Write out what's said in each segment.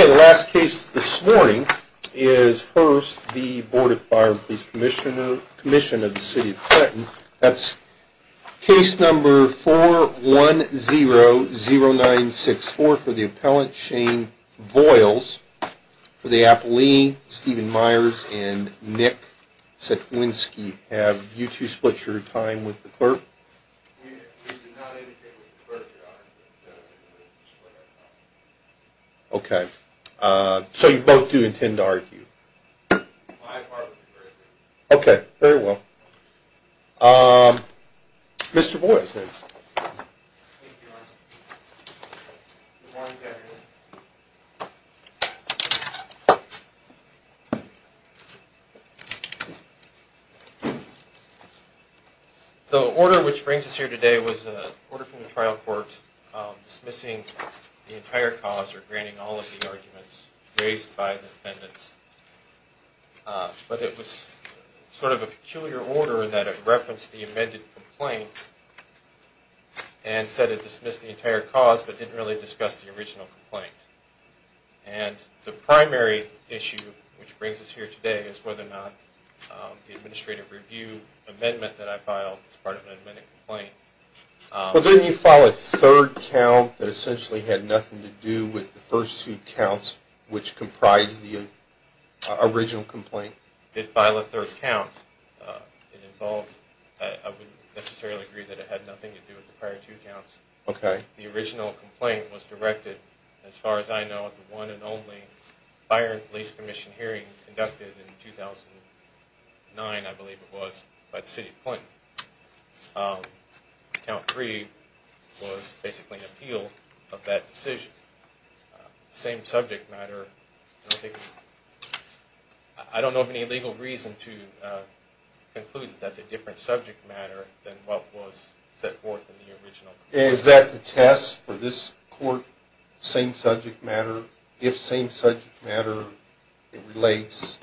Okay, the last case this morning is Hurst v. Board of Fire and Police Commission of the City of Clinton. That's case number 4100964 for the appellant, Shane Voiles. For the appellee, Stephen Myers and Nick Sikwinski. Have you two split your time with the clerk? We did not indicate that we split our time with the clerk. By far, we split our time. Thank you, Your Honor. Good morning, Captain. The order which brings us here today was an order from the trial court dismissing the entire cause or granting all of the arguments raised by the defendants. But it was sort of a peculiar order in that it referenced the amended complaint and said it dismissed the entire cause but didn't really discuss the original complaint. And the primary issue which brings us here today is whether or not the administrative review amendment that I filed as part of an amended complaint... Well, didn't you file a third count that essentially had nothing to do with the first two counts which comprised the original complaint? I did file a third count. It involved... I would necessarily agree that it had nothing to do with the prior two counts. Okay. The original complaint was directed, as far as I know, at the one and only fire and police commission hearing conducted in 2009, I believe it was, by the city of Clinton. Count three was basically an appeal of that decision. Same subject matter... I don't know of any legal reason to conclude that that's a different subject matter than what was set forth in the original complaint. Is that the test for this court, same subject matter, if same subject matter relates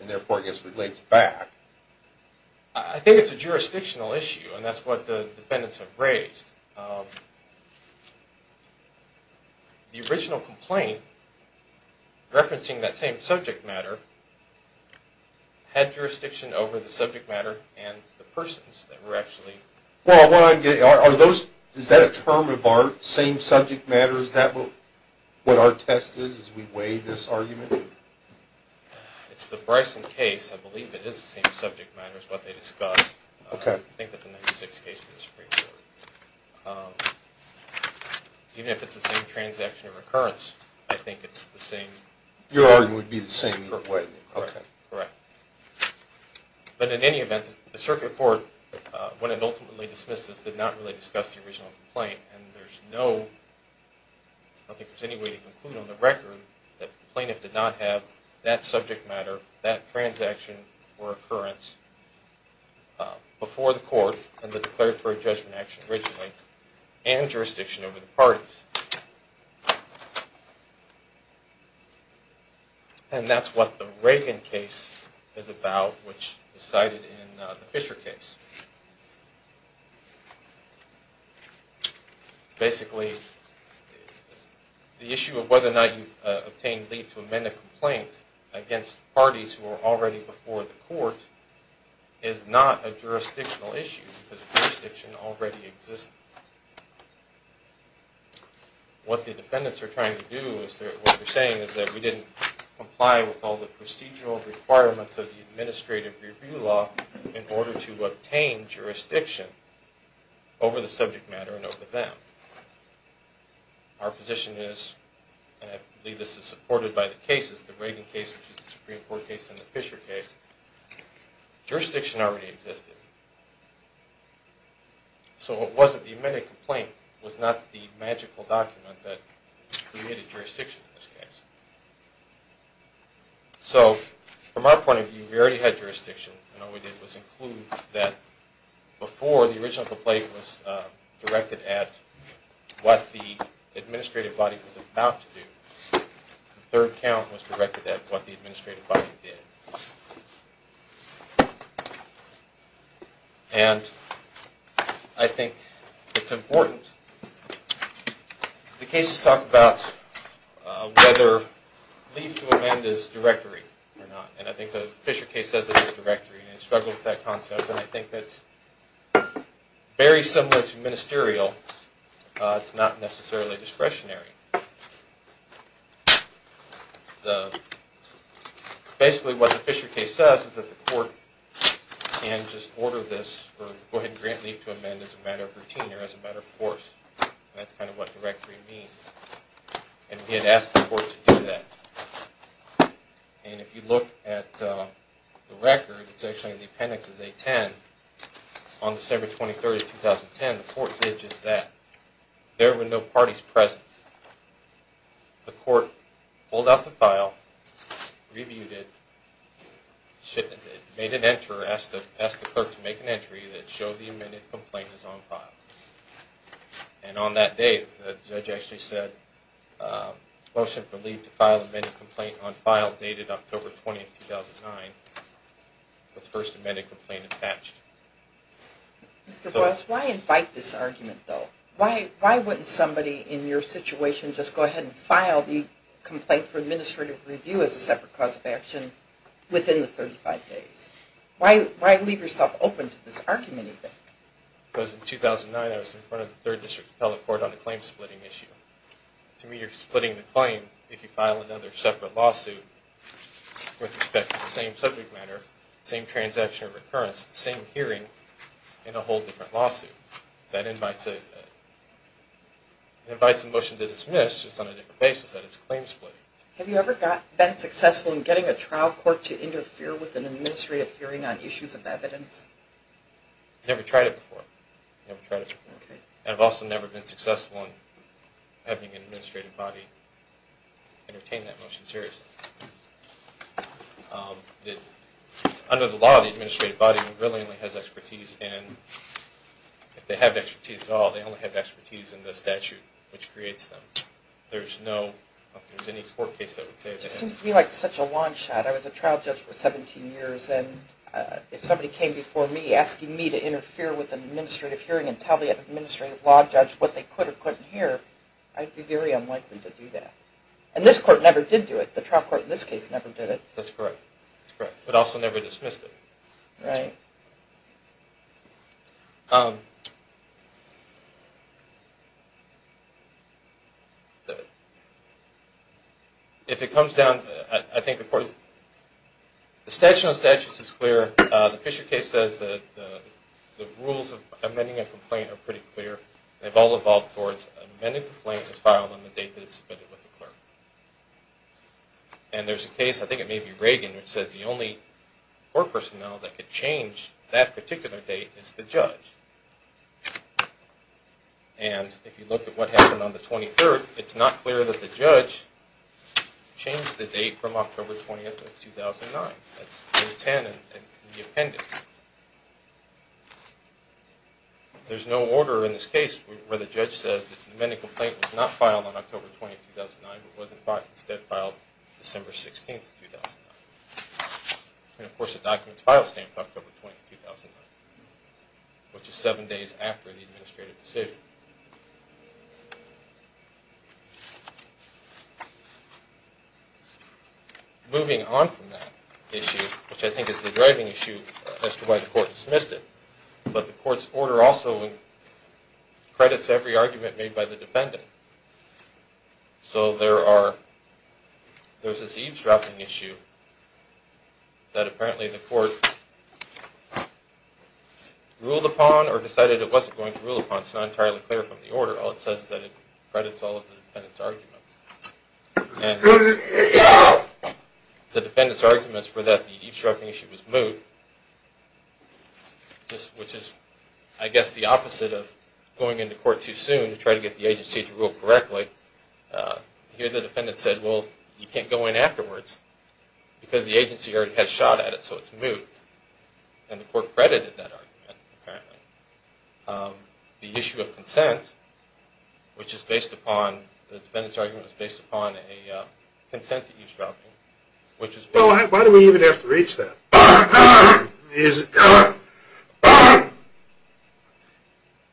and therefore, I guess, relates back? I think it's a jurisdictional issue and that's what the defendants have raised. The original complaint, referencing that same subject matter, had jurisdiction over the subject matter and the persons that were actually... Is that a term of art, same subject matter, is that what our test is as we weigh this argument? It's the Bryson case. I believe it is the same subject matter as what they discussed. Okay. I think that's a 96 case in the Supreme Court. Even if it's the same transaction of occurrence, I think it's the same... Your argument would be the same, correct? Correct. But in any event, the circuit court, when it ultimately dismissed this, did not really discuss the original complaint. And there's no... I don't think there's any way to conclude on the record that the plaintiff did not have that subject matter, that transaction or occurrence before the court and the declaratory judgment action originally and jurisdiction over the parties. And that's what the Reagan case is about, which is cited in the Fisher case. Basically, the issue of whether or not you've obtained leave to amend a complaint against parties who are already before the court is not a jurisdictional issue, because jurisdiction already exists. What the defendants are trying to do, what they're saying is that we didn't comply with all the procedural requirements of the administrative review law in order to obtain jurisdiction over the subject matter and over them. Our position is, and I believe this is supported by the cases, the Reagan case, which is the Supreme Court case, and the Fisher case, jurisdiction already existed. So it wasn't that the amended complaint was not the magical document that created jurisdiction in this case. So, from our point of view, we already had jurisdiction. And all we did was include that before the original complaint was directed at what the administrative body was about to do, the third count was directed at what the administrative body did. And I think it's important. The cases talk about whether leave to amend is directory or not. And I think the Fisher case says it is directory, and it struggled with that concept. And I think that's very similar to ministerial. It's not necessarily discretionary. Basically, what the Fisher case says is that the court can just order this or go ahead and grant leave to amend as a matter of routine or as a matter of course. And that's kind of what directory means. And we had asked the court to do that. And if you look at the record, it's actually in the appendix as A10, on December 23, 2010, the court did just that. There were no parties present. The court pulled out the file, reviewed it, made an entry, asked the clerk to make an entry that showed the amended complaint is on file. And on that day, the judge actually said, motion for leave to file the amended complaint on file dated October 20, 2009, with the first amended complaint attached. Mr. Boyles, why invite this argument, though? Why wouldn't somebody in your situation just go ahead and file the complaint for administrative review as a separate cause of action within the 35 days? Why leave yourself open to this argument, even? Because in 2009, I was in front of the 3rd District Appellate Court on a claim-splitting issue. To me, you're splitting the claim if you file another separate lawsuit with respect to the same subject matter, same transaction or recurrence, the same hearing in a whole different lawsuit. That invites a motion to dismiss just on a different basis that it's claim-splitting. Have you ever been successful in getting a trial court to interfere with an administrative hearing on issues of evidence? I've never tried it before. I've never tried it before. And I've also never been successful in having an administrative body entertain that motion seriously. Under the law, the administrative body brilliantly has expertise, and if they have expertise at all, they only have expertise in the statute which creates them. There's no, if there's any court case that would say that. It seems to me like such a long shot. I was a trial judge for 17 years, and if somebody came before me asking me to interfere with an administrative hearing and tell the administrative law judge what they could or couldn't hear, I'd be very unlikely to do that. And this court never did do it. The trial court in this case never did it. That's correct. But also never dismissed it. Right. If it comes down, I think the court, the statute on statutes is clear. The Fisher case says that the rules of amending a complaint are pretty clear. They've all evolved towards amending a complaint to file on the date that it's submitted with the clerk. And there's a case, I think it may be Reagan, which says the only court personnel that could change that particular date is the judge. And if you look at what happened on the 23rd, it's not clear that the judge changed the date from October 20th of 2009. That's the 10 in the appendix. There's no order in this case where the judge says that the amending complaint was not filed on October 20th, 2009, but was instead filed on December 16th, 2009. And of course, the documents file stand for October 20th, 2009, which is seven days after the administrative decision. Moving on from that issue, which I think is the driving issue as to why the court dismissed it, but the court's order also credits every argument made by the defendant. So there's this eavesdropping issue that apparently the court ruled upon or decided it wasn't going to rule upon. It's not entirely clear from the order. All it says is that it credits all of the defendant's arguments. And the defendant's arguments for that eavesdropping issue was moot, which is, I guess, the opposite of going into court too soon to try to get the agency to rule correctly. Here the defendant said, well, you can't go in afterwards because the agency already had a shot at it, so it's moot. And the court credited that argument, apparently. The issue of consent, which is based upon, the defendant's argument is based upon a consent eavesdropping. Well, why do we even have to reach that?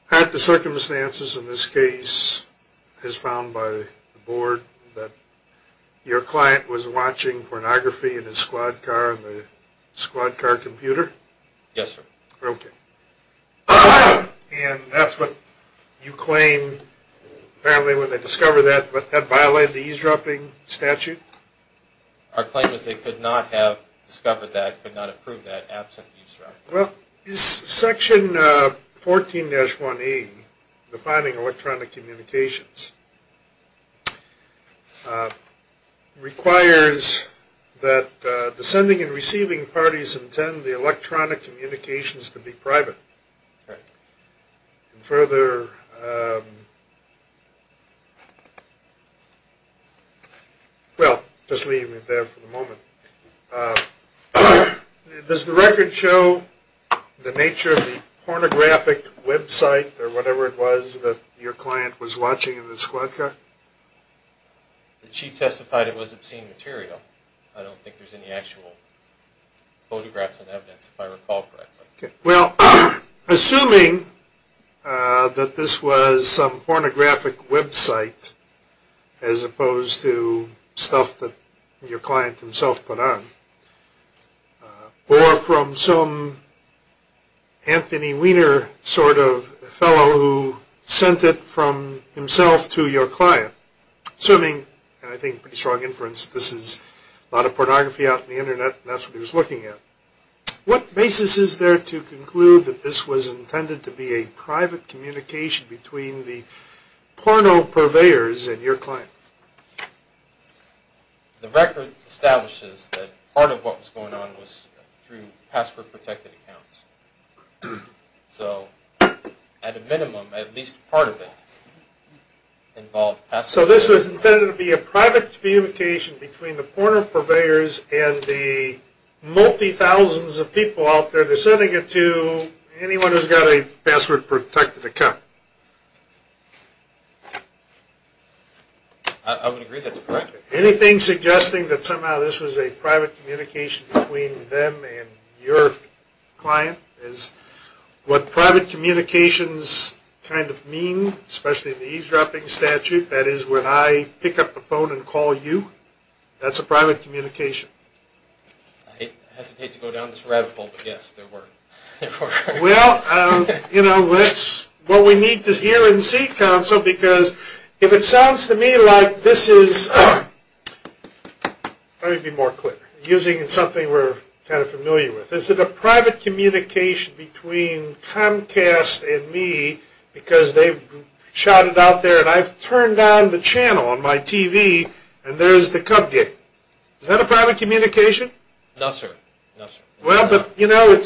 Had the circumstances in this case, as found by the board, that your client was watching pornography in his squad car on the squad car computer? Yes, sir. Okay. And that's what you claim, apparently when they discovered that, that violated the eavesdropping statute? Our claim is they could not have discovered that, could not have proved that absent eavesdropping. Well, section 14-1E, defining electronic communications, requires that the sending and receiving parties intend the electronic communications to be private. Right. Further, well, just leave it there for the moment. Does the record show the nature of the pornographic website or whatever it was that your client was watching in his squad car? The chief testified it was obscene material. I don't think there's any actual photographs and evidence, if I recall correctly. Okay. Well, assuming that this was some pornographic website, as opposed to stuff that your client himself put on, or from some Anthony Weiner sort of fellow who sent it from himself to your client, assuming, and I think pretty strong inference, this is a lot of pornography out on the internet, and that's what he was looking at, what basis is there to conclude that this was intended to be a private communication between the porno-purveyors and your client? The record establishes that part of what was going on was through password-protected accounts. So, at a minimum, at least part of it involved password-protected accounts. So this was intended to be a private communication between the porno-purveyors and the multi-thousands of people out there. They're sending it to anyone who's got a password-protected account. I would agree that's correct. Anything suggesting that somehow this was a private communication between them and your client is what private communications kind of mean, especially in the eavesdropping statute. That is, when I pick up the phone and call you, that's a private communication. I hesitate to go down this rabbit hole, but yes, there were. Well, you know, what we need to hear and see, Counsel, because if it sounds to me like this is, let me be more clear, using something we're kind of familiar with. So is it a private communication between Comcast and me because they've shouted out there, and I've turned on the channel on my TV, and there's the cupcake. Is that a private communication? No, sir. No, sir. Well, but, you know,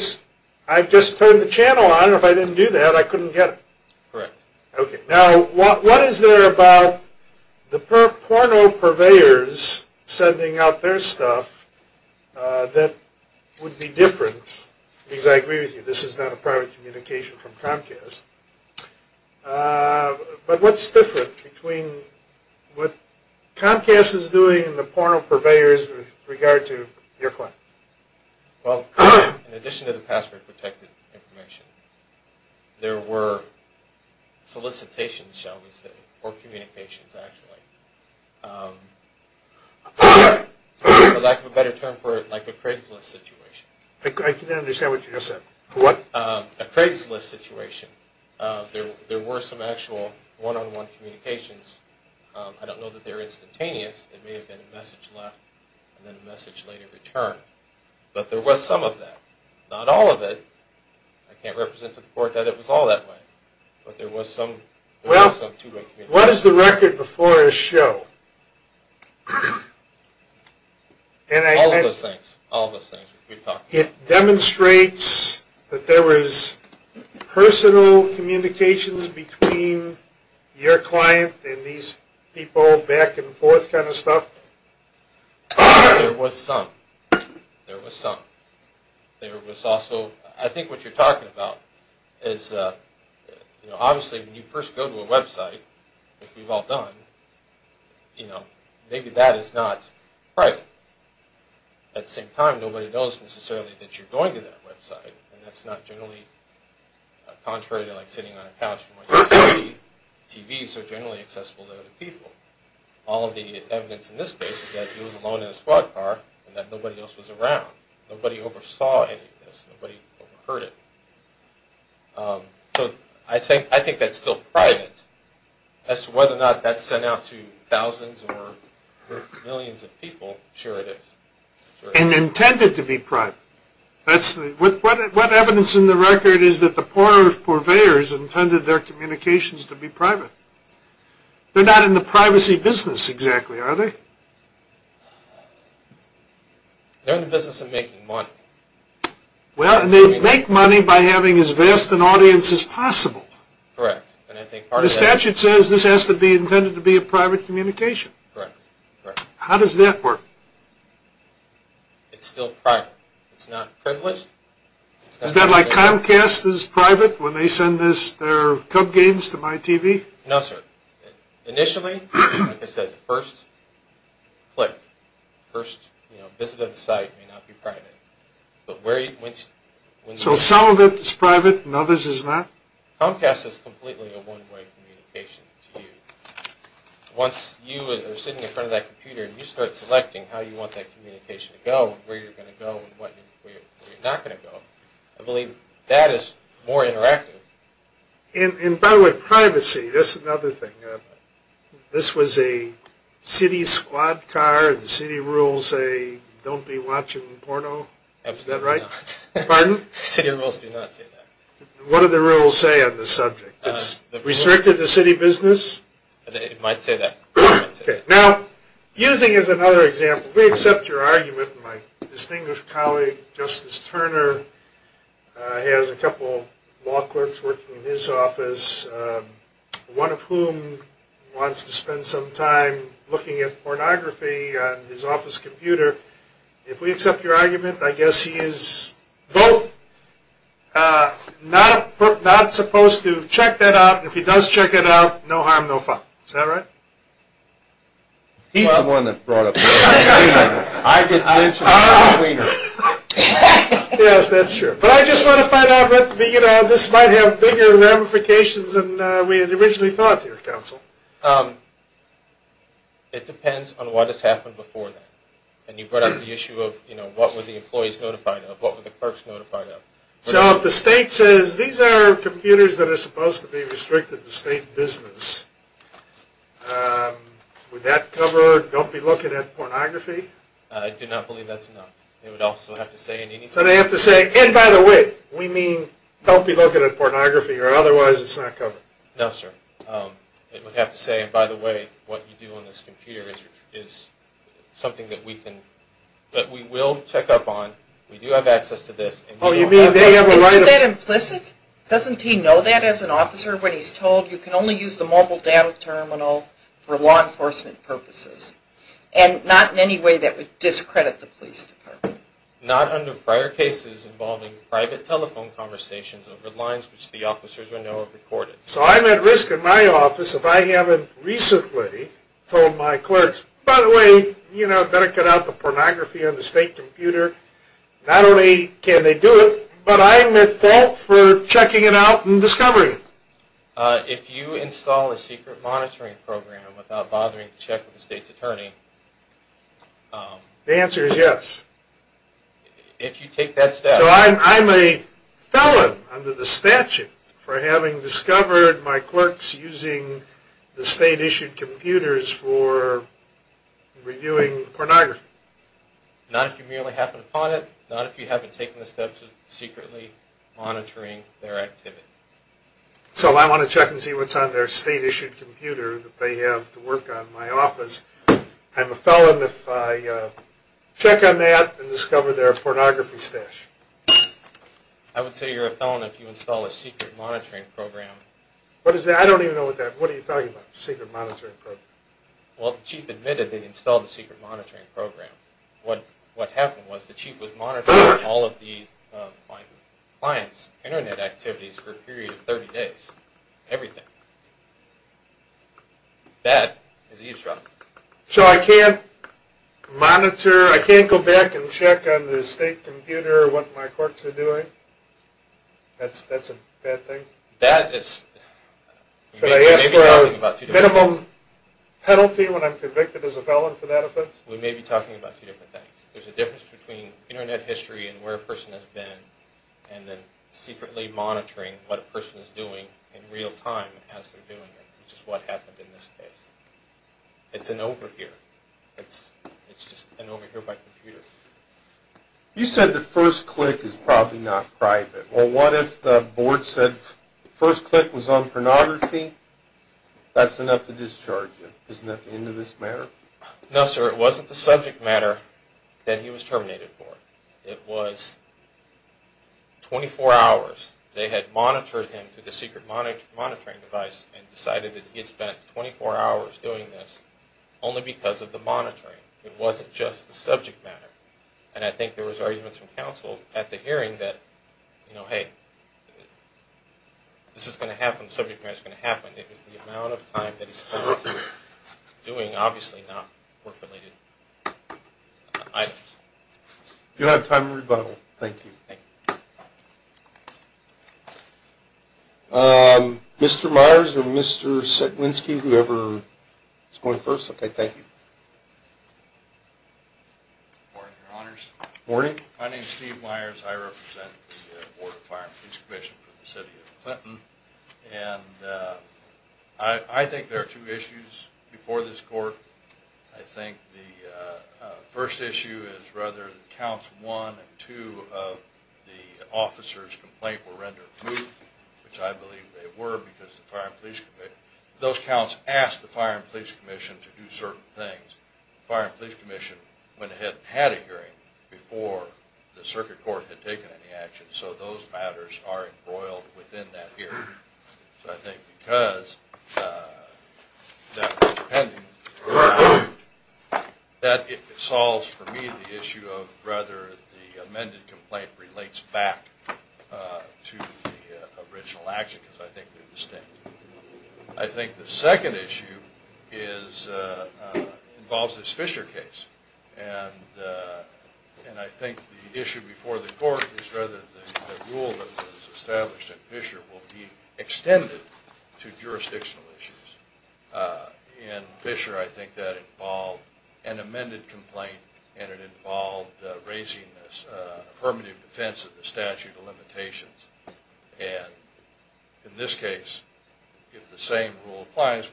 I've just turned the channel on. If I didn't do that, I couldn't get it. Correct. Okay. Now, what is there about the porno purveyors sending out their stuff that would be different? Because I agree with you, this is not a private communication from Comcast. But what's different between what Comcast is doing and the porno purveyors with regard to your client? Well, in addition to the password-protected information, there were solicitations, shall we say, or communications, actually, for lack of a better term, like a Craigslist situation. I couldn't understand what you just said. What? A Craigslist situation. There were some actual one-on-one communications. I don't know that they were instantaneous. It may have been a message left and then a message later returned. But there was some of that. Not all of it. I can't represent to the court that it was all that way. But there was some two-way communication. Well, what is the record before a show? All of those things. All of those things. It demonstrates that there was personal communications between your client and these people back and forth kind of stuff? There was some. There was some. There was also, I think what you're talking about is, you know, obviously when you first go to a website, which we've all done, you know, maybe that is not private. At the same time, nobody knows necessarily that you're going to that website. And that's not generally contrary to like sitting on a couch and watching TV. TVs are generally accessible to other people. All of the evidence in this case is that he was alone in a squad car and that nobody else was around. Nobody oversaw any of this. Nobody overheard it. So I think that's still private. As to whether or not that's sent out to thousands or millions of people, sure it is. And intended to be private. What evidence in the record is that the poor purveyors intended their communications to be private? They're not in the privacy business exactly, are they? They're in the business of making money. Well, and they make money by having as vast an audience as possible. Correct. The statute says this has to be intended to be a private communication. Correct. How does that work? It's still private. It's not privileged. Is that like Comcast is private when they send their Cub games to my TV? No, sir. Initially, like I said, the first click, first visit of the site may not be private. So some of it is private and others is not? Comcast is completely a one-way communication to you. Once you are sitting in front of that computer and you start selecting how you want that communication to go, where you're going to go and where you're not going to go, I believe that is more interactive. And by the way, privacy, that's another thing. This was a city squad car and the city rules say don't be watching porno? Absolutely not. Is that right? Pardon? City rules do not say that. What do the rules say on this subject? It's restricted to city business? It might say that. Okay. Now, using as another example, we accept your argument. My distinguished colleague, Justice Turner, has a couple law clerks working in his office, one of whom wants to spend some time looking at pornography on his office computer. If we accept your argument, I guess he is both not supposed to check that out. If he does check it out, no harm, no fault. Is that right? He's the one that brought up that. I didn't. Yes, that's true. But I just want to find out, you know, this might have bigger ramifications than we had originally thought here, Counsel. It depends on what has happened before that. And you brought up the issue of, you know, what were the employees notified of? What were the clerks notified of? So if the state says these are computers that are supposed to be restricted to state business, would that cover don't be looking at pornography? I do not believe that's enough. It would also have to say in any... So they have to say, and by the way, we mean don't be looking at pornography or otherwise it's not covered. No, sir. It would have to say, and by the way, what you do on this computer is something that we can... that we will check up on. We do have access to this. Oh, you mean they have a right of... Isn't that implicit? Doesn't he know that as an officer when he's told you can only use the mobile data terminal for law enforcement purposes? And not in any way that would discredit the police department. Not under prior cases involving private telephone conversations over lines which the officers would know are recorded. So I'm at risk in my office if I haven't recently told my clerks, by the way, you know, better cut out the pornography on the state computer. Not only can they do it, but I'm at fault for checking it out and discovering it. If you install a secret monitoring program without bothering to check with the state's attorney... The answer is yes. If you take that step... So I'm a felon under the statute for having discovered my clerks using the state-issued computers for reviewing pornography. Not if you merely happen upon it. Not if you haven't taken the steps of secretly monitoring their activity. So I want to check and see what's on their state-issued computer that they have to work on my office. I'm a felon if I check on that and discover their pornography stash. I would say you're a felon if you install a secret monitoring program. What is that? I don't even know what that is. What are you talking about, a secret monitoring program? Well, the chief admitted they installed a secret monitoring program. What happened was the chief was monitoring all of the client's Internet activities for a period of 30 days. Everything. That is eavesdropping. So I can't monitor, I can't go back and check on the state computer what my clerks are doing? That's a bad thing? That is... Should I ask for a minimum penalty when I'm convicted as a felon for that offense? We may be talking about two different things. There's a difference between Internet history and where a person has been, and then secretly monitoring what a person is doing in real time as they're doing it, which is what happened in this case. It's an overhear. It's just an overhear by computer. You said the first click is probably not private. Well, what if the board said the first click was on pornography? That's enough to discharge you. Isn't that the end of this matter? No, sir. It wasn't the subject matter that he was terminated for. It was 24 hours. They had monitored him through the secret monitoring device and decided that he had spent 24 hours doing this only because of the monitoring. It wasn't just the subject matter. And I think there was arguments from counsel at the hearing that, you know, hey, this is going to happen, the subject matter is going to happen. It was the amount of time that he spent doing obviously not work-related items. Do you have time for a rebuttal? Thank you. Mr. Myers or Mr. Sikwinski, whoever is going first? Okay, thank you. Good morning, Your Honors. Good morning. My name is Steve Myers. I represent the Board of Fire and Police Commission for the City of Clinton. And I think there are two issues before this court. I think the first issue is rather that Counts 1 and 2 of the officers' complaint were rendered moot, which I believe they were because the Fire and Police Commission, those counts asked the Fire and Police Commission to do certain things. The Fire and Police Commission went ahead and had a hearing before the circuit court had taken any action. So those matters are embroiled within that hearing. So I think because that was pending, that solves for me the issue of whether the amended complaint relates back to the original action because I think they're distinct. I think the second issue involves this Fisher case. And I think the issue before the court is rather the rule that was established at Fisher will be extended to jurisdictional issues. In Fisher, I think that involved an amended complaint, and it involved raising this affirmative defense of the statute of limitations. And in this case, if the same rule applies,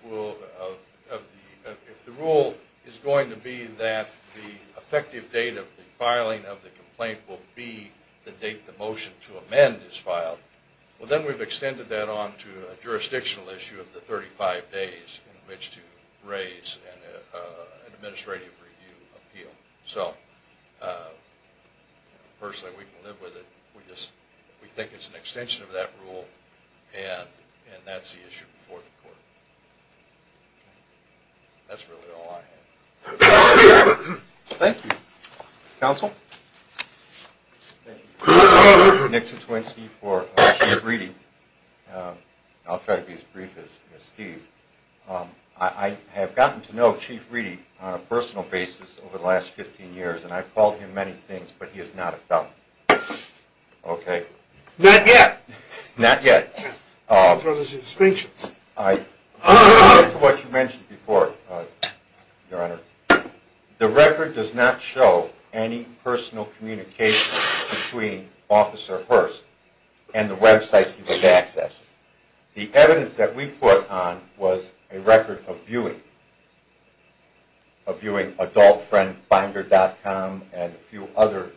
if the rule is going to be that the effective date of the filing of the complaint will be the date the motion to amend is filed, well then we've extended that on to a jurisdictional issue of the 35 days in which to raise an administrative review appeal. So personally, we can live with it. We think it's an extension of that rule, and that's the issue before the court. That's really all I have. Thank you. Counsel? Nick Citwinski for Chief Reedy. I'll try to be as brief as Steve. I have gotten to know Chief Reedy on a personal basis over the last 15 years, and I've called him many things, but he is not a felon. Okay? Not yet. Not yet. What are his distinctions? I agree with what you mentioned before, Your Honor. The record does not show any personal communication between Officer Hurst and the websites he was accessing. The evidence that we put on was a record of viewing, of viewing adultfriendfinder.com and a few other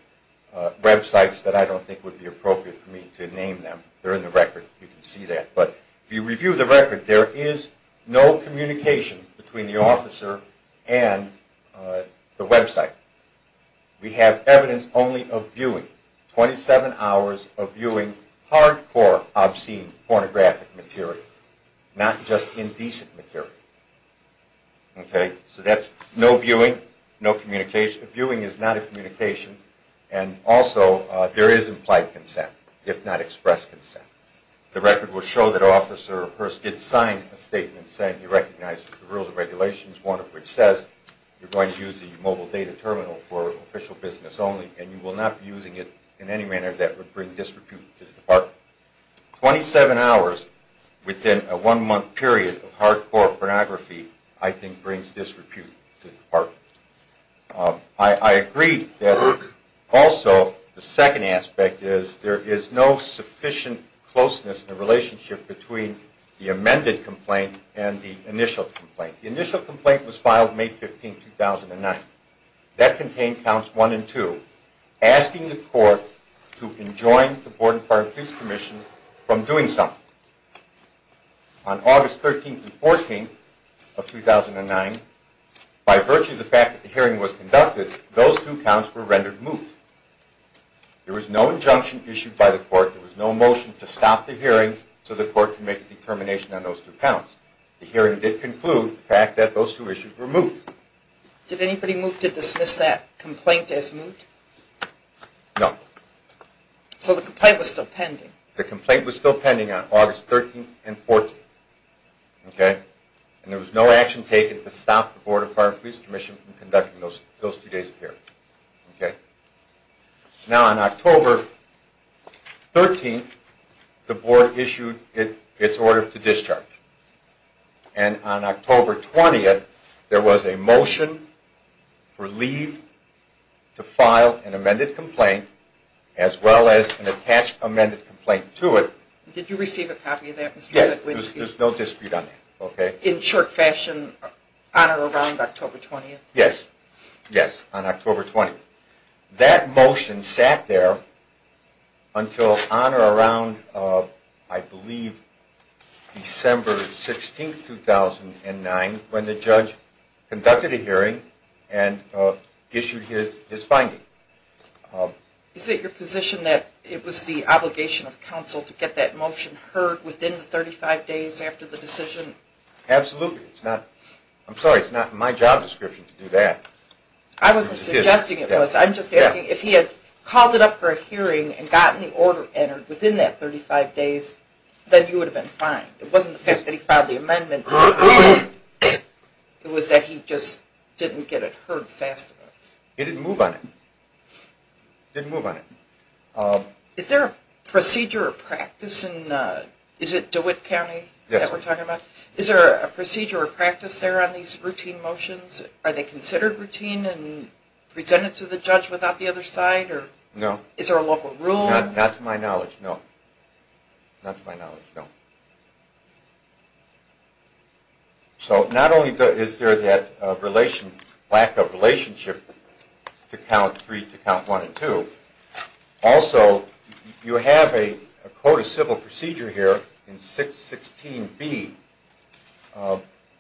websites that I don't think would be appropriate for me to name them. They're in the record. You can see that. But if you review the record, there is no communication between the officer and the website. We have evidence only of viewing, 27 hours of viewing hardcore, obscene, pornographic material, not just indecent material. Okay? So that's no viewing, no communication. Viewing is not a communication, and also there is implied consent, if not expressed consent. The record will show that Officer Hurst did sign a statement saying, you recognize the rules and regulations, one of which says you're going to use the mobile data terminal for official business only and you will not be using it in any manner that would bring disrepute to the department. Twenty-seven hours within a one-month period of hardcore pornography, I think brings disrepute to the department. I agree that also the second aspect is there is no sufficient closeness in the relationship between the amended complaint and the initial complaint. The initial complaint was filed May 15, 2009. That contained counts one and two, asking the court to enjoin the Board of Fire and Police Commission from doing something. On August 13th and 14th of 2009, by virtue of the fact that the hearing was conducted, those two counts were rendered moot. There was no injunction issued by the court. There was no motion to stop the hearing so the court could make a determination on those two counts. The hearing did conclude the fact that those two issues were moot. Did anybody move to dismiss that complaint as moot? No. So the complaint was still pending? The complaint was still pending on August 13th and 14th. There was no action taken to stop the Board of Fire and Police Commission from conducting those two days of hearings. On October 13th, the Board issued its order to discharge. On October 20th, there was a motion for leave to file an amended complaint, as well as an attached amended complaint to it. Did you receive a copy of that? Yes, there was no dispute on that. In short fashion, on or around October 20th? Yes, on October 20th. That motion sat there until on or around, I believe, December 16th, 2009, when the judge conducted a hearing and issued his finding. Is it your position that it was the obligation of counsel to get that motion heard within the 35 days after the decision? Absolutely. I'm sorry, it's not in my job description to do that. I wasn't suggesting it was. I'm just asking if he had called it up for a hearing and gotten the order entered within that 35 days, then you would have been fine. It wasn't the fact that he filed the amendment. It was that he just didn't get it heard fast enough. He didn't move on it. He didn't move on it. Is there a procedure or practice in, is it DeWitt County that we're talking about? Yes. Is there a procedure or practice there on these routine motions? Are they considered routine and presented to the judge without the other side? No. Is there a local rule? Not to my knowledge, no. Not to my knowledge, no. So not only is there that lack of relationship to Count 3 to Count 1 and 2, also you have a code of civil procedure here in 616B,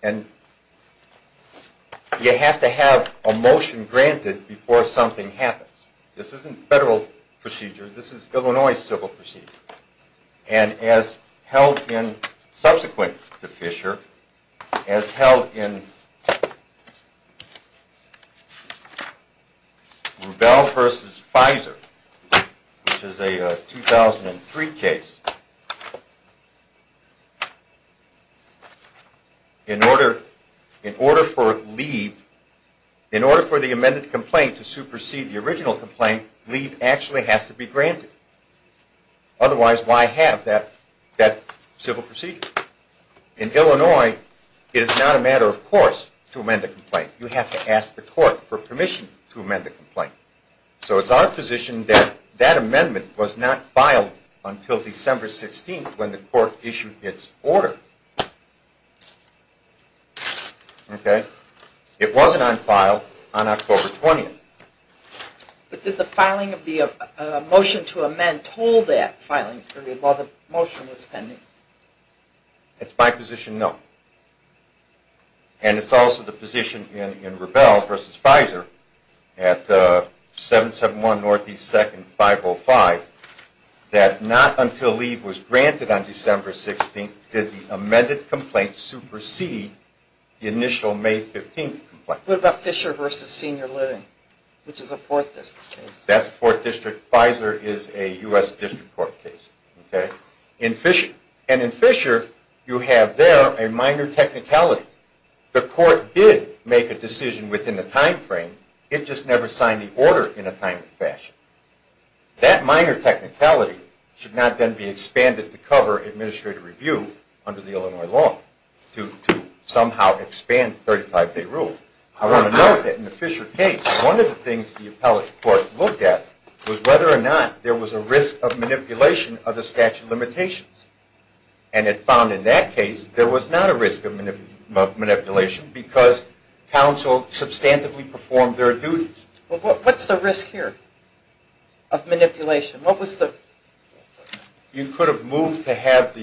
and you have to have a motion granted before something happens. This isn't federal procedure. This is Illinois civil procedure. And as held in subsequent to Fisher, as held in Rubell v. Pfizer, which is a 2003 case, in order for leave, in order for the amended complaint to supersede the original complaint, leave actually has to be granted. Otherwise, why have that civil procedure? In Illinois, it is not a matter of course to amend the complaint. You have to ask the court for permission to amend the complaint. So it's our position that that amendment was not filed until December 16th when the court issued its order. It wasn't unfiled on October 20th. But did the filing of the motion to amend toll that filing period while the motion was pending? It's my position, no. And it's also the position in Rubell v. Pfizer at 771 Northeast 2nd, 505, that not until leave was granted on December 16th did the amended complaint supersede the initial May 15th complaint. What about Fisher v. Senior Living, which is a Fourth District case? That's a Fourth District. Pfizer is a U.S. District Court case. And in Fisher, you have there a minor technicality. The court did make a decision within the time frame. It just never signed the order in a timely fashion. That minor technicality should not then be expanded to cover administrative review under the Illinois law to somehow expand the 35-day rule. I want to note that in the Fisher case, one of the things the appellate court looked at was whether or not there was a risk of manipulation of the statute of limitations. And it found in that case there was not a risk of manipulation because counsel substantively performed their duties. Well, what's the risk here of manipulation? You could have moved to have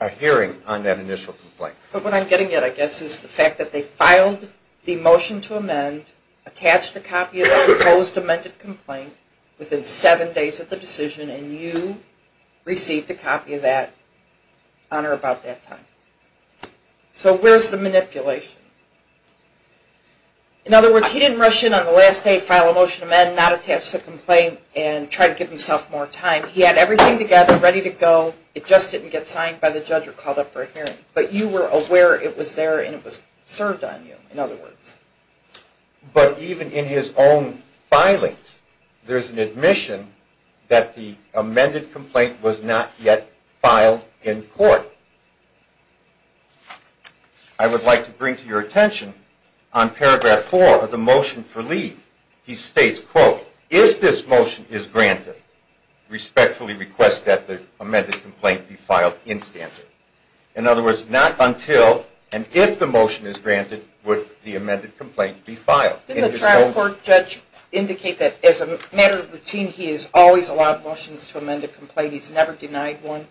a hearing on that initial complaint. But what I'm getting at, I guess, is the fact that they filed the motion to amend, attached a copy of the proposed amended complaint within seven days of the decision, and you received a copy of that on or about that time. So where's the manipulation? In other words, he didn't rush in on the last day, file a motion to amend, not attach the complaint, and try to give himself more time. He had everything together, ready to go. It just didn't get signed by the judge or called up for a hearing. But you were aware it was there and it was served on you, in other words. But even in his own filing, there's an admission that the amended complaint was not yet filed in court. I would like to bring to your attention, on paragraph four of the motion for leave, he states, quote, If this motion is granted, respectfully request that the amended complaint be filed in standard. In other words, not until and if the motion is granted would the amended complaint be filed. Didn't the trial court judge indicate that as a matter of routine, he has always allowed motions to amend a complaint? He's never denied one?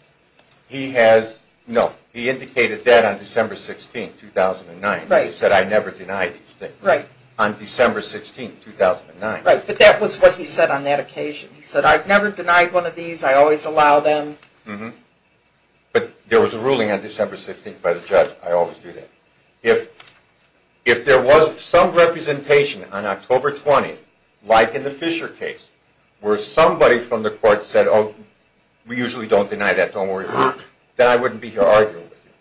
No. He indicated that on December 16, 2009. He said, I never deny these things. Right. On December 16, 2009. Right, but that was what he said on that occasion. He said, I've never denied one of these. I always allow them. Mm-hmm. But there was a ruling on December 16 by the judge. I always do that. If there was some representation on October 20, like in the Fisher case, where somebody from the court said, oh, we usually don't deny that. Don't worry. Then I wouldn't be here arguing with you.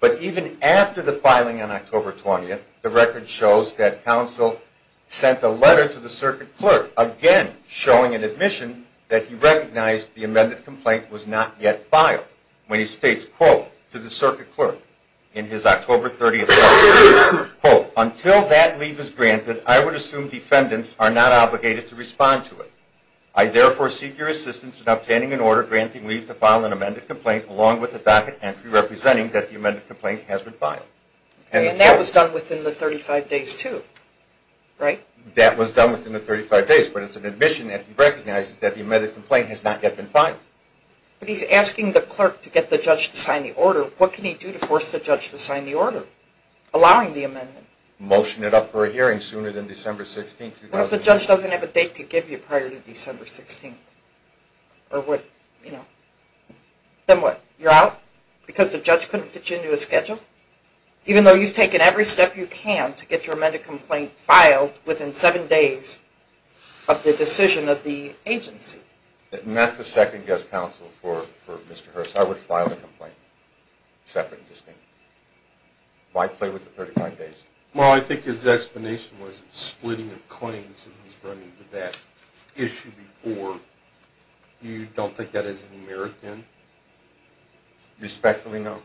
But even after the filing on October 20, the record shows that counsel sent a letter to the circuit clerk, again showing an admission that he recognized the amended complaint was not yet filed, when he states, quote, to the circuit clerk in his October 30th letter, quote, until that leave is granted, I would assume defendants are not obligated to respond to it. I therefore seek your assistance in obtaining an order granting leave to file an amended complaint along with a docket entry representing that the amended complaint has been filed. And that was done within the 35 days too, right? That was done within the 35 days, but it's an admission that he recognizes that the amended complaint has not yet been filed. But he's asking the clerk to get the judge to sign the order. What can he do to force the judge to sign the order allowing the amendment? Motion it up for a hearing sooner than December 16, 2009. What if the judge doesn't have a date to give you prior to December 16? Or what, you know, then what? You're out because the judge couldn't fit you into a schedule? Even though you've taken every step you can to get your amended complaint filed within seven days of the decision of the agency? Not the second guest counsel for Mr. Hurst. I would file the complaint separate and distinct. I'd play with the 39 days. Well, I think his explanation was splitting of claims. He's running with that issue before. You don't think that is an American? Respectfully, no.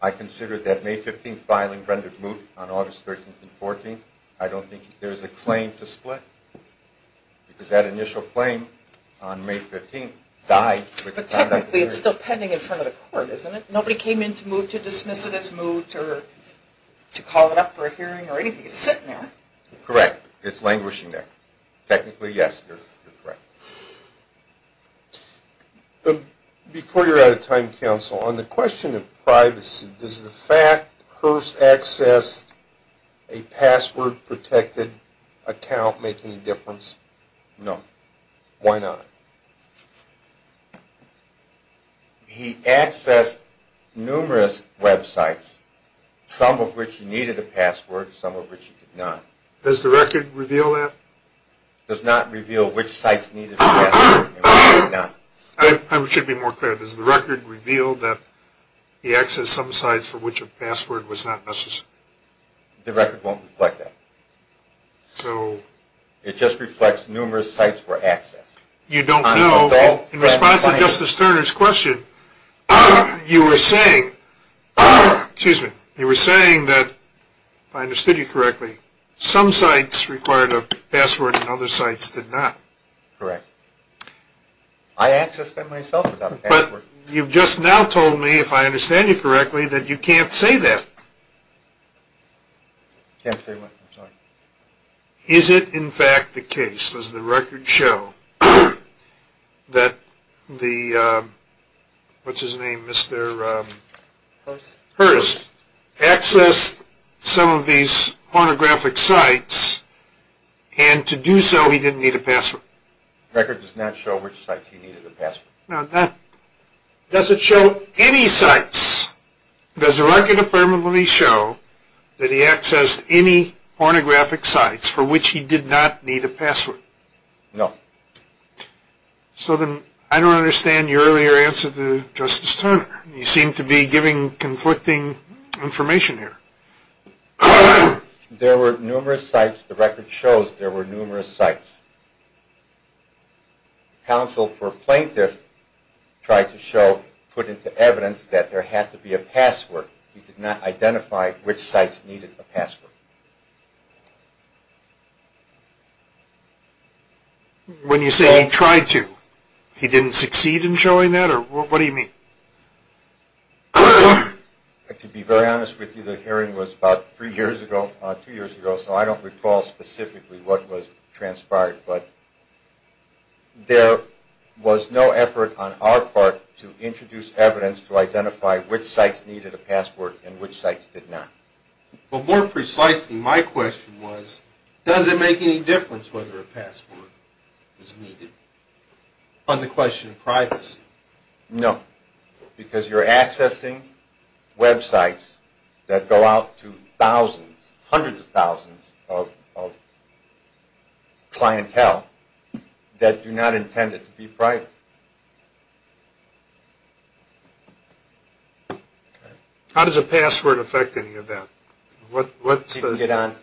I consider that May 15 filing rendered moot on August 13th and 14th. I don't think there's a claim to split because that initial claim on May 15th died with the conduct of the hearing. But technically it's still pending in front of the court, isn't it? Nobody came in to dismiss it as moot or to call it up for a hearing or anything. It's sitting there. Correct. It's languishing there. Technically, yes, you're correct. Before you're out of time, counsel, on the question of privacy, does the fact Hurst accessed a password-protected account make any difference? No. Why not? He accessed numerous websites, some of which needed a password, some of which did not. Does the record reveal that? It does not reveal which sites needed a password and which did not. I should be more clear. Does the record reveal that he accessed some sites for which a password was not necessary? The record won't reflect that. It just reflects numerous sites were accessed. You don't know. In response to Justice Turner's question, you were saying that, if I understood you correctly, some sites required a password and other sites did not. Correct. I accessed them myself without a password. But you've just now told me, if I understand you correctly, that you can't say that. I can't say what I'm talking about. Is it, in fact, the case, does the record show, that the, what's his name, Mr. Hurst, accessed some of these pornographic sites and, to do so, he didn't need a password? The record does not show which sites he needed a password. Does it show any sites? Yes. Does the record affirmatively show that he accessed any pornographic sites for which he did not need a password? No. So then, I don't understand your earlier answer to Justice Turner. You seem to be giving conflicting information here. There were numerous sites. The record shows there were numerous sites. Counsel for plaintiff tried to show, put into evidence, that there had to be a password. He could not identify which sites needed a password. When you say he tried to, he didn't succeed in showing that, or what do you mean? To be very honest with you, the hearing was about three years ago, two years ago, so I don't recall specifically what was transpired, but there was no effort on our part to introduce evidence to identify which sites needed a password and which sites did not. Well, more precisely, my question was, does it make any difference whether a password is needed? On the question of privacy. No. Because you're accessing websites that go out to thousands, hundreds of thousands of clientele that do not intend it to be private. How does a password affect any of that? Once you get onto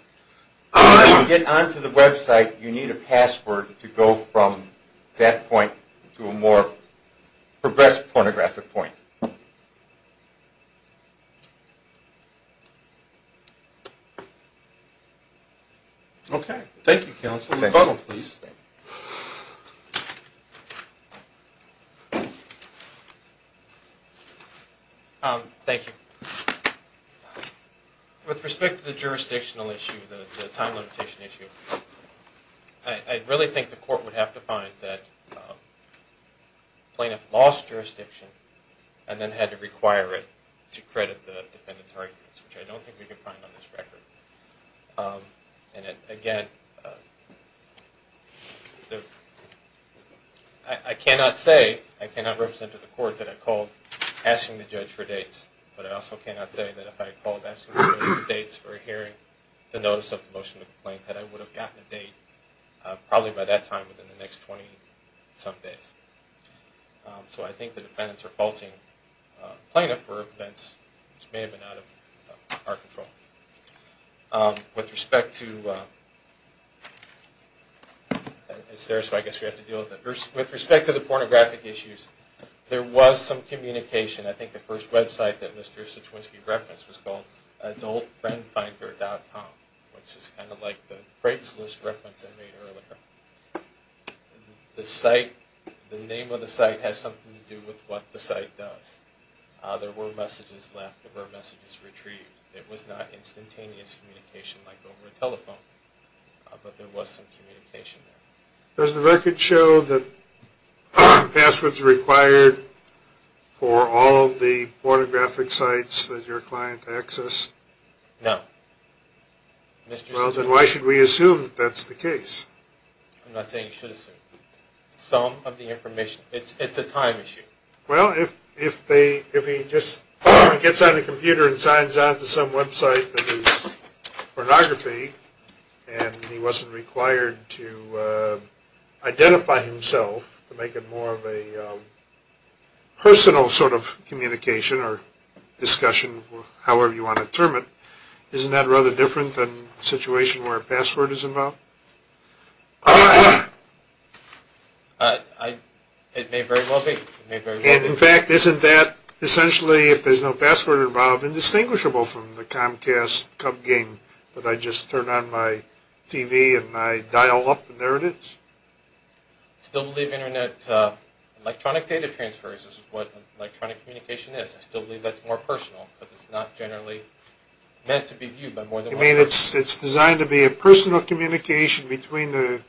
the website, you need a password to go from that point to a more progressed pornographic point. Okay. Thank you, counsel. Thank you. With respect to the jurisdictional issue, the time limitation issue, I really think the court would have to find that plaintiff lost jurisdiction and then had to require it to credit the defendant's arguments, which I don't think we can find on this record. And again, I cannot say, I cannot represent to the court that I called asking the judge for dates, but I also cannot say that if I had called asking for dates for a hearing to notice of the motion of complaint that I would have gotten a date probably by that time within the next 20-some days. So I think the defendants are faulting plaintiff for events which may have been out of our control. With respect to, it's there so I guess we have to deal with it. With respect to the pornographic issues, there was some communication. I think the first website that Mr. Cichwinski referenced was called adultfriendfinder.com, which is kind of like the Craigslist reference I made earlier. The site, the name of the site has something to do with what the site does. There were messages left. There were messages retrieved. It was not instantaneous communication like over a telephone, but there was some communication there. Does the record show that passwords are required for all the pornographic sites that your client accessed? No. Well, then why should we assume that that's the case? I'm not saying you should assume. Some of the information. It's a time issue. Well, if he just gets on a computer and signs on to some website that is pornography and he wasn't required to identify himself to make it more of a personal sort of communication or discussion, however you want to term it, isn't that rather different than a situation where a password is involved? Ahem. It may very well be. In fact, isn't that essentially, if there's no password involved, indistinguishable from the Comcast cub game that I just turn on my TV and I dial up and there it is? I still believe internet electronic data transfers is what electronic communication is. I still believe that's more personal because it's not generally meant to be viewed by more than one person. You mean it's designed to be a personal communication between the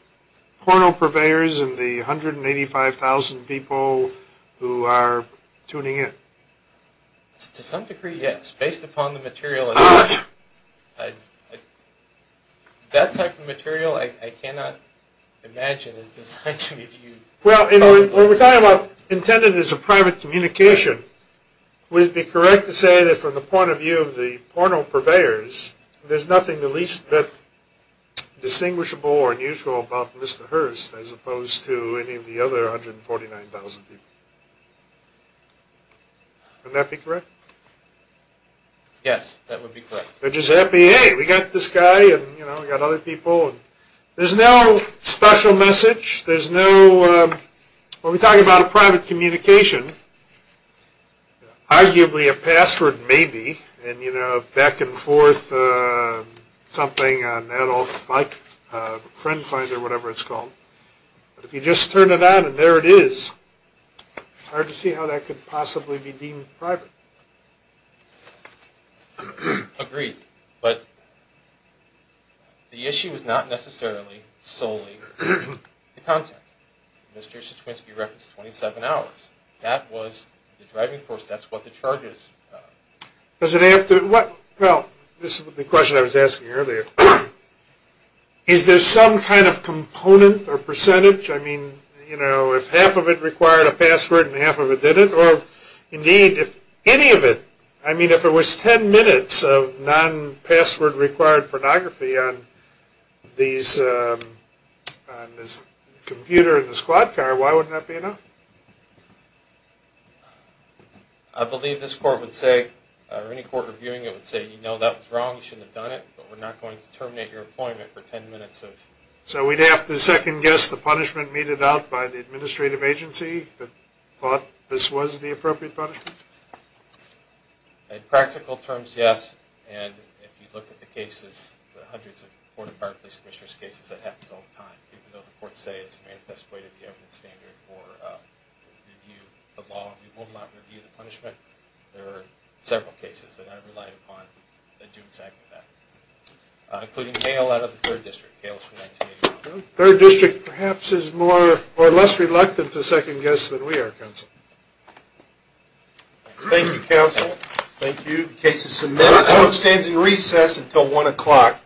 porno purveyors and the 185,000 people who are tuning in? To some degree, yes. Based upon the material. That type of material I cannot imagine is designed to be viewed. Well, when we're talking about intended as a private communication, would it be correct to say that from the point of view of the porno purveyors, there's nothing the least bit distinguishable or unusual about Mr. Hurst as opposed to any of the other 149,000 people? Wouldn't that be correct? Yes, that would be correct. They're just happy, hey, we got this guy and we got other people. There's no special message. When we're talking about a private communication, arguably a password maybe, and back and forth, something, an adult, a friend finder, whatever it's called. If you just turn it on and there it is, it's hard to see how that could possibly be deemed private. Agreed. But the issue is not necessarily solely the content. Mr. Cichwinski referenced 27 hours. That was the driving force. That's what the charges are. Does it have to, well, this is the question I was asking earlier. Is there some kind of component or percentage? I mean, you know, if half of it required a password and half of it didn't, or indeed if any of it, I mean, if it was 10 minutes of non-password required pornography on this computer in the squad car, why wouldn't that be enough? I believe this court would say, or any court reviewing it would say, you know that was wrong, you shouldn't have done it, but we're not going to terminate your appointment for 10 minutes. So we'd have to second guess the punishment meted out by the administrative agency that thought this was the appropriate punishment? In practical terms, yes. And if you look at the cases, the hundreds of court of Barclays commissioners' cases, that happens all the time. Even though the courts say it's a manifest way to be open standard for review of the law, we will not review the punishment. There are several cases that I've relied upon that do exactly that, including Kale out of the 3rd District. Kale is from 1981. The 3rd District perhaps is more or less reluctant to second guess than we are, Counsel. Thank you, Counsel. Thank you. The case is submitted. Court stands in recess until 1 o'clock.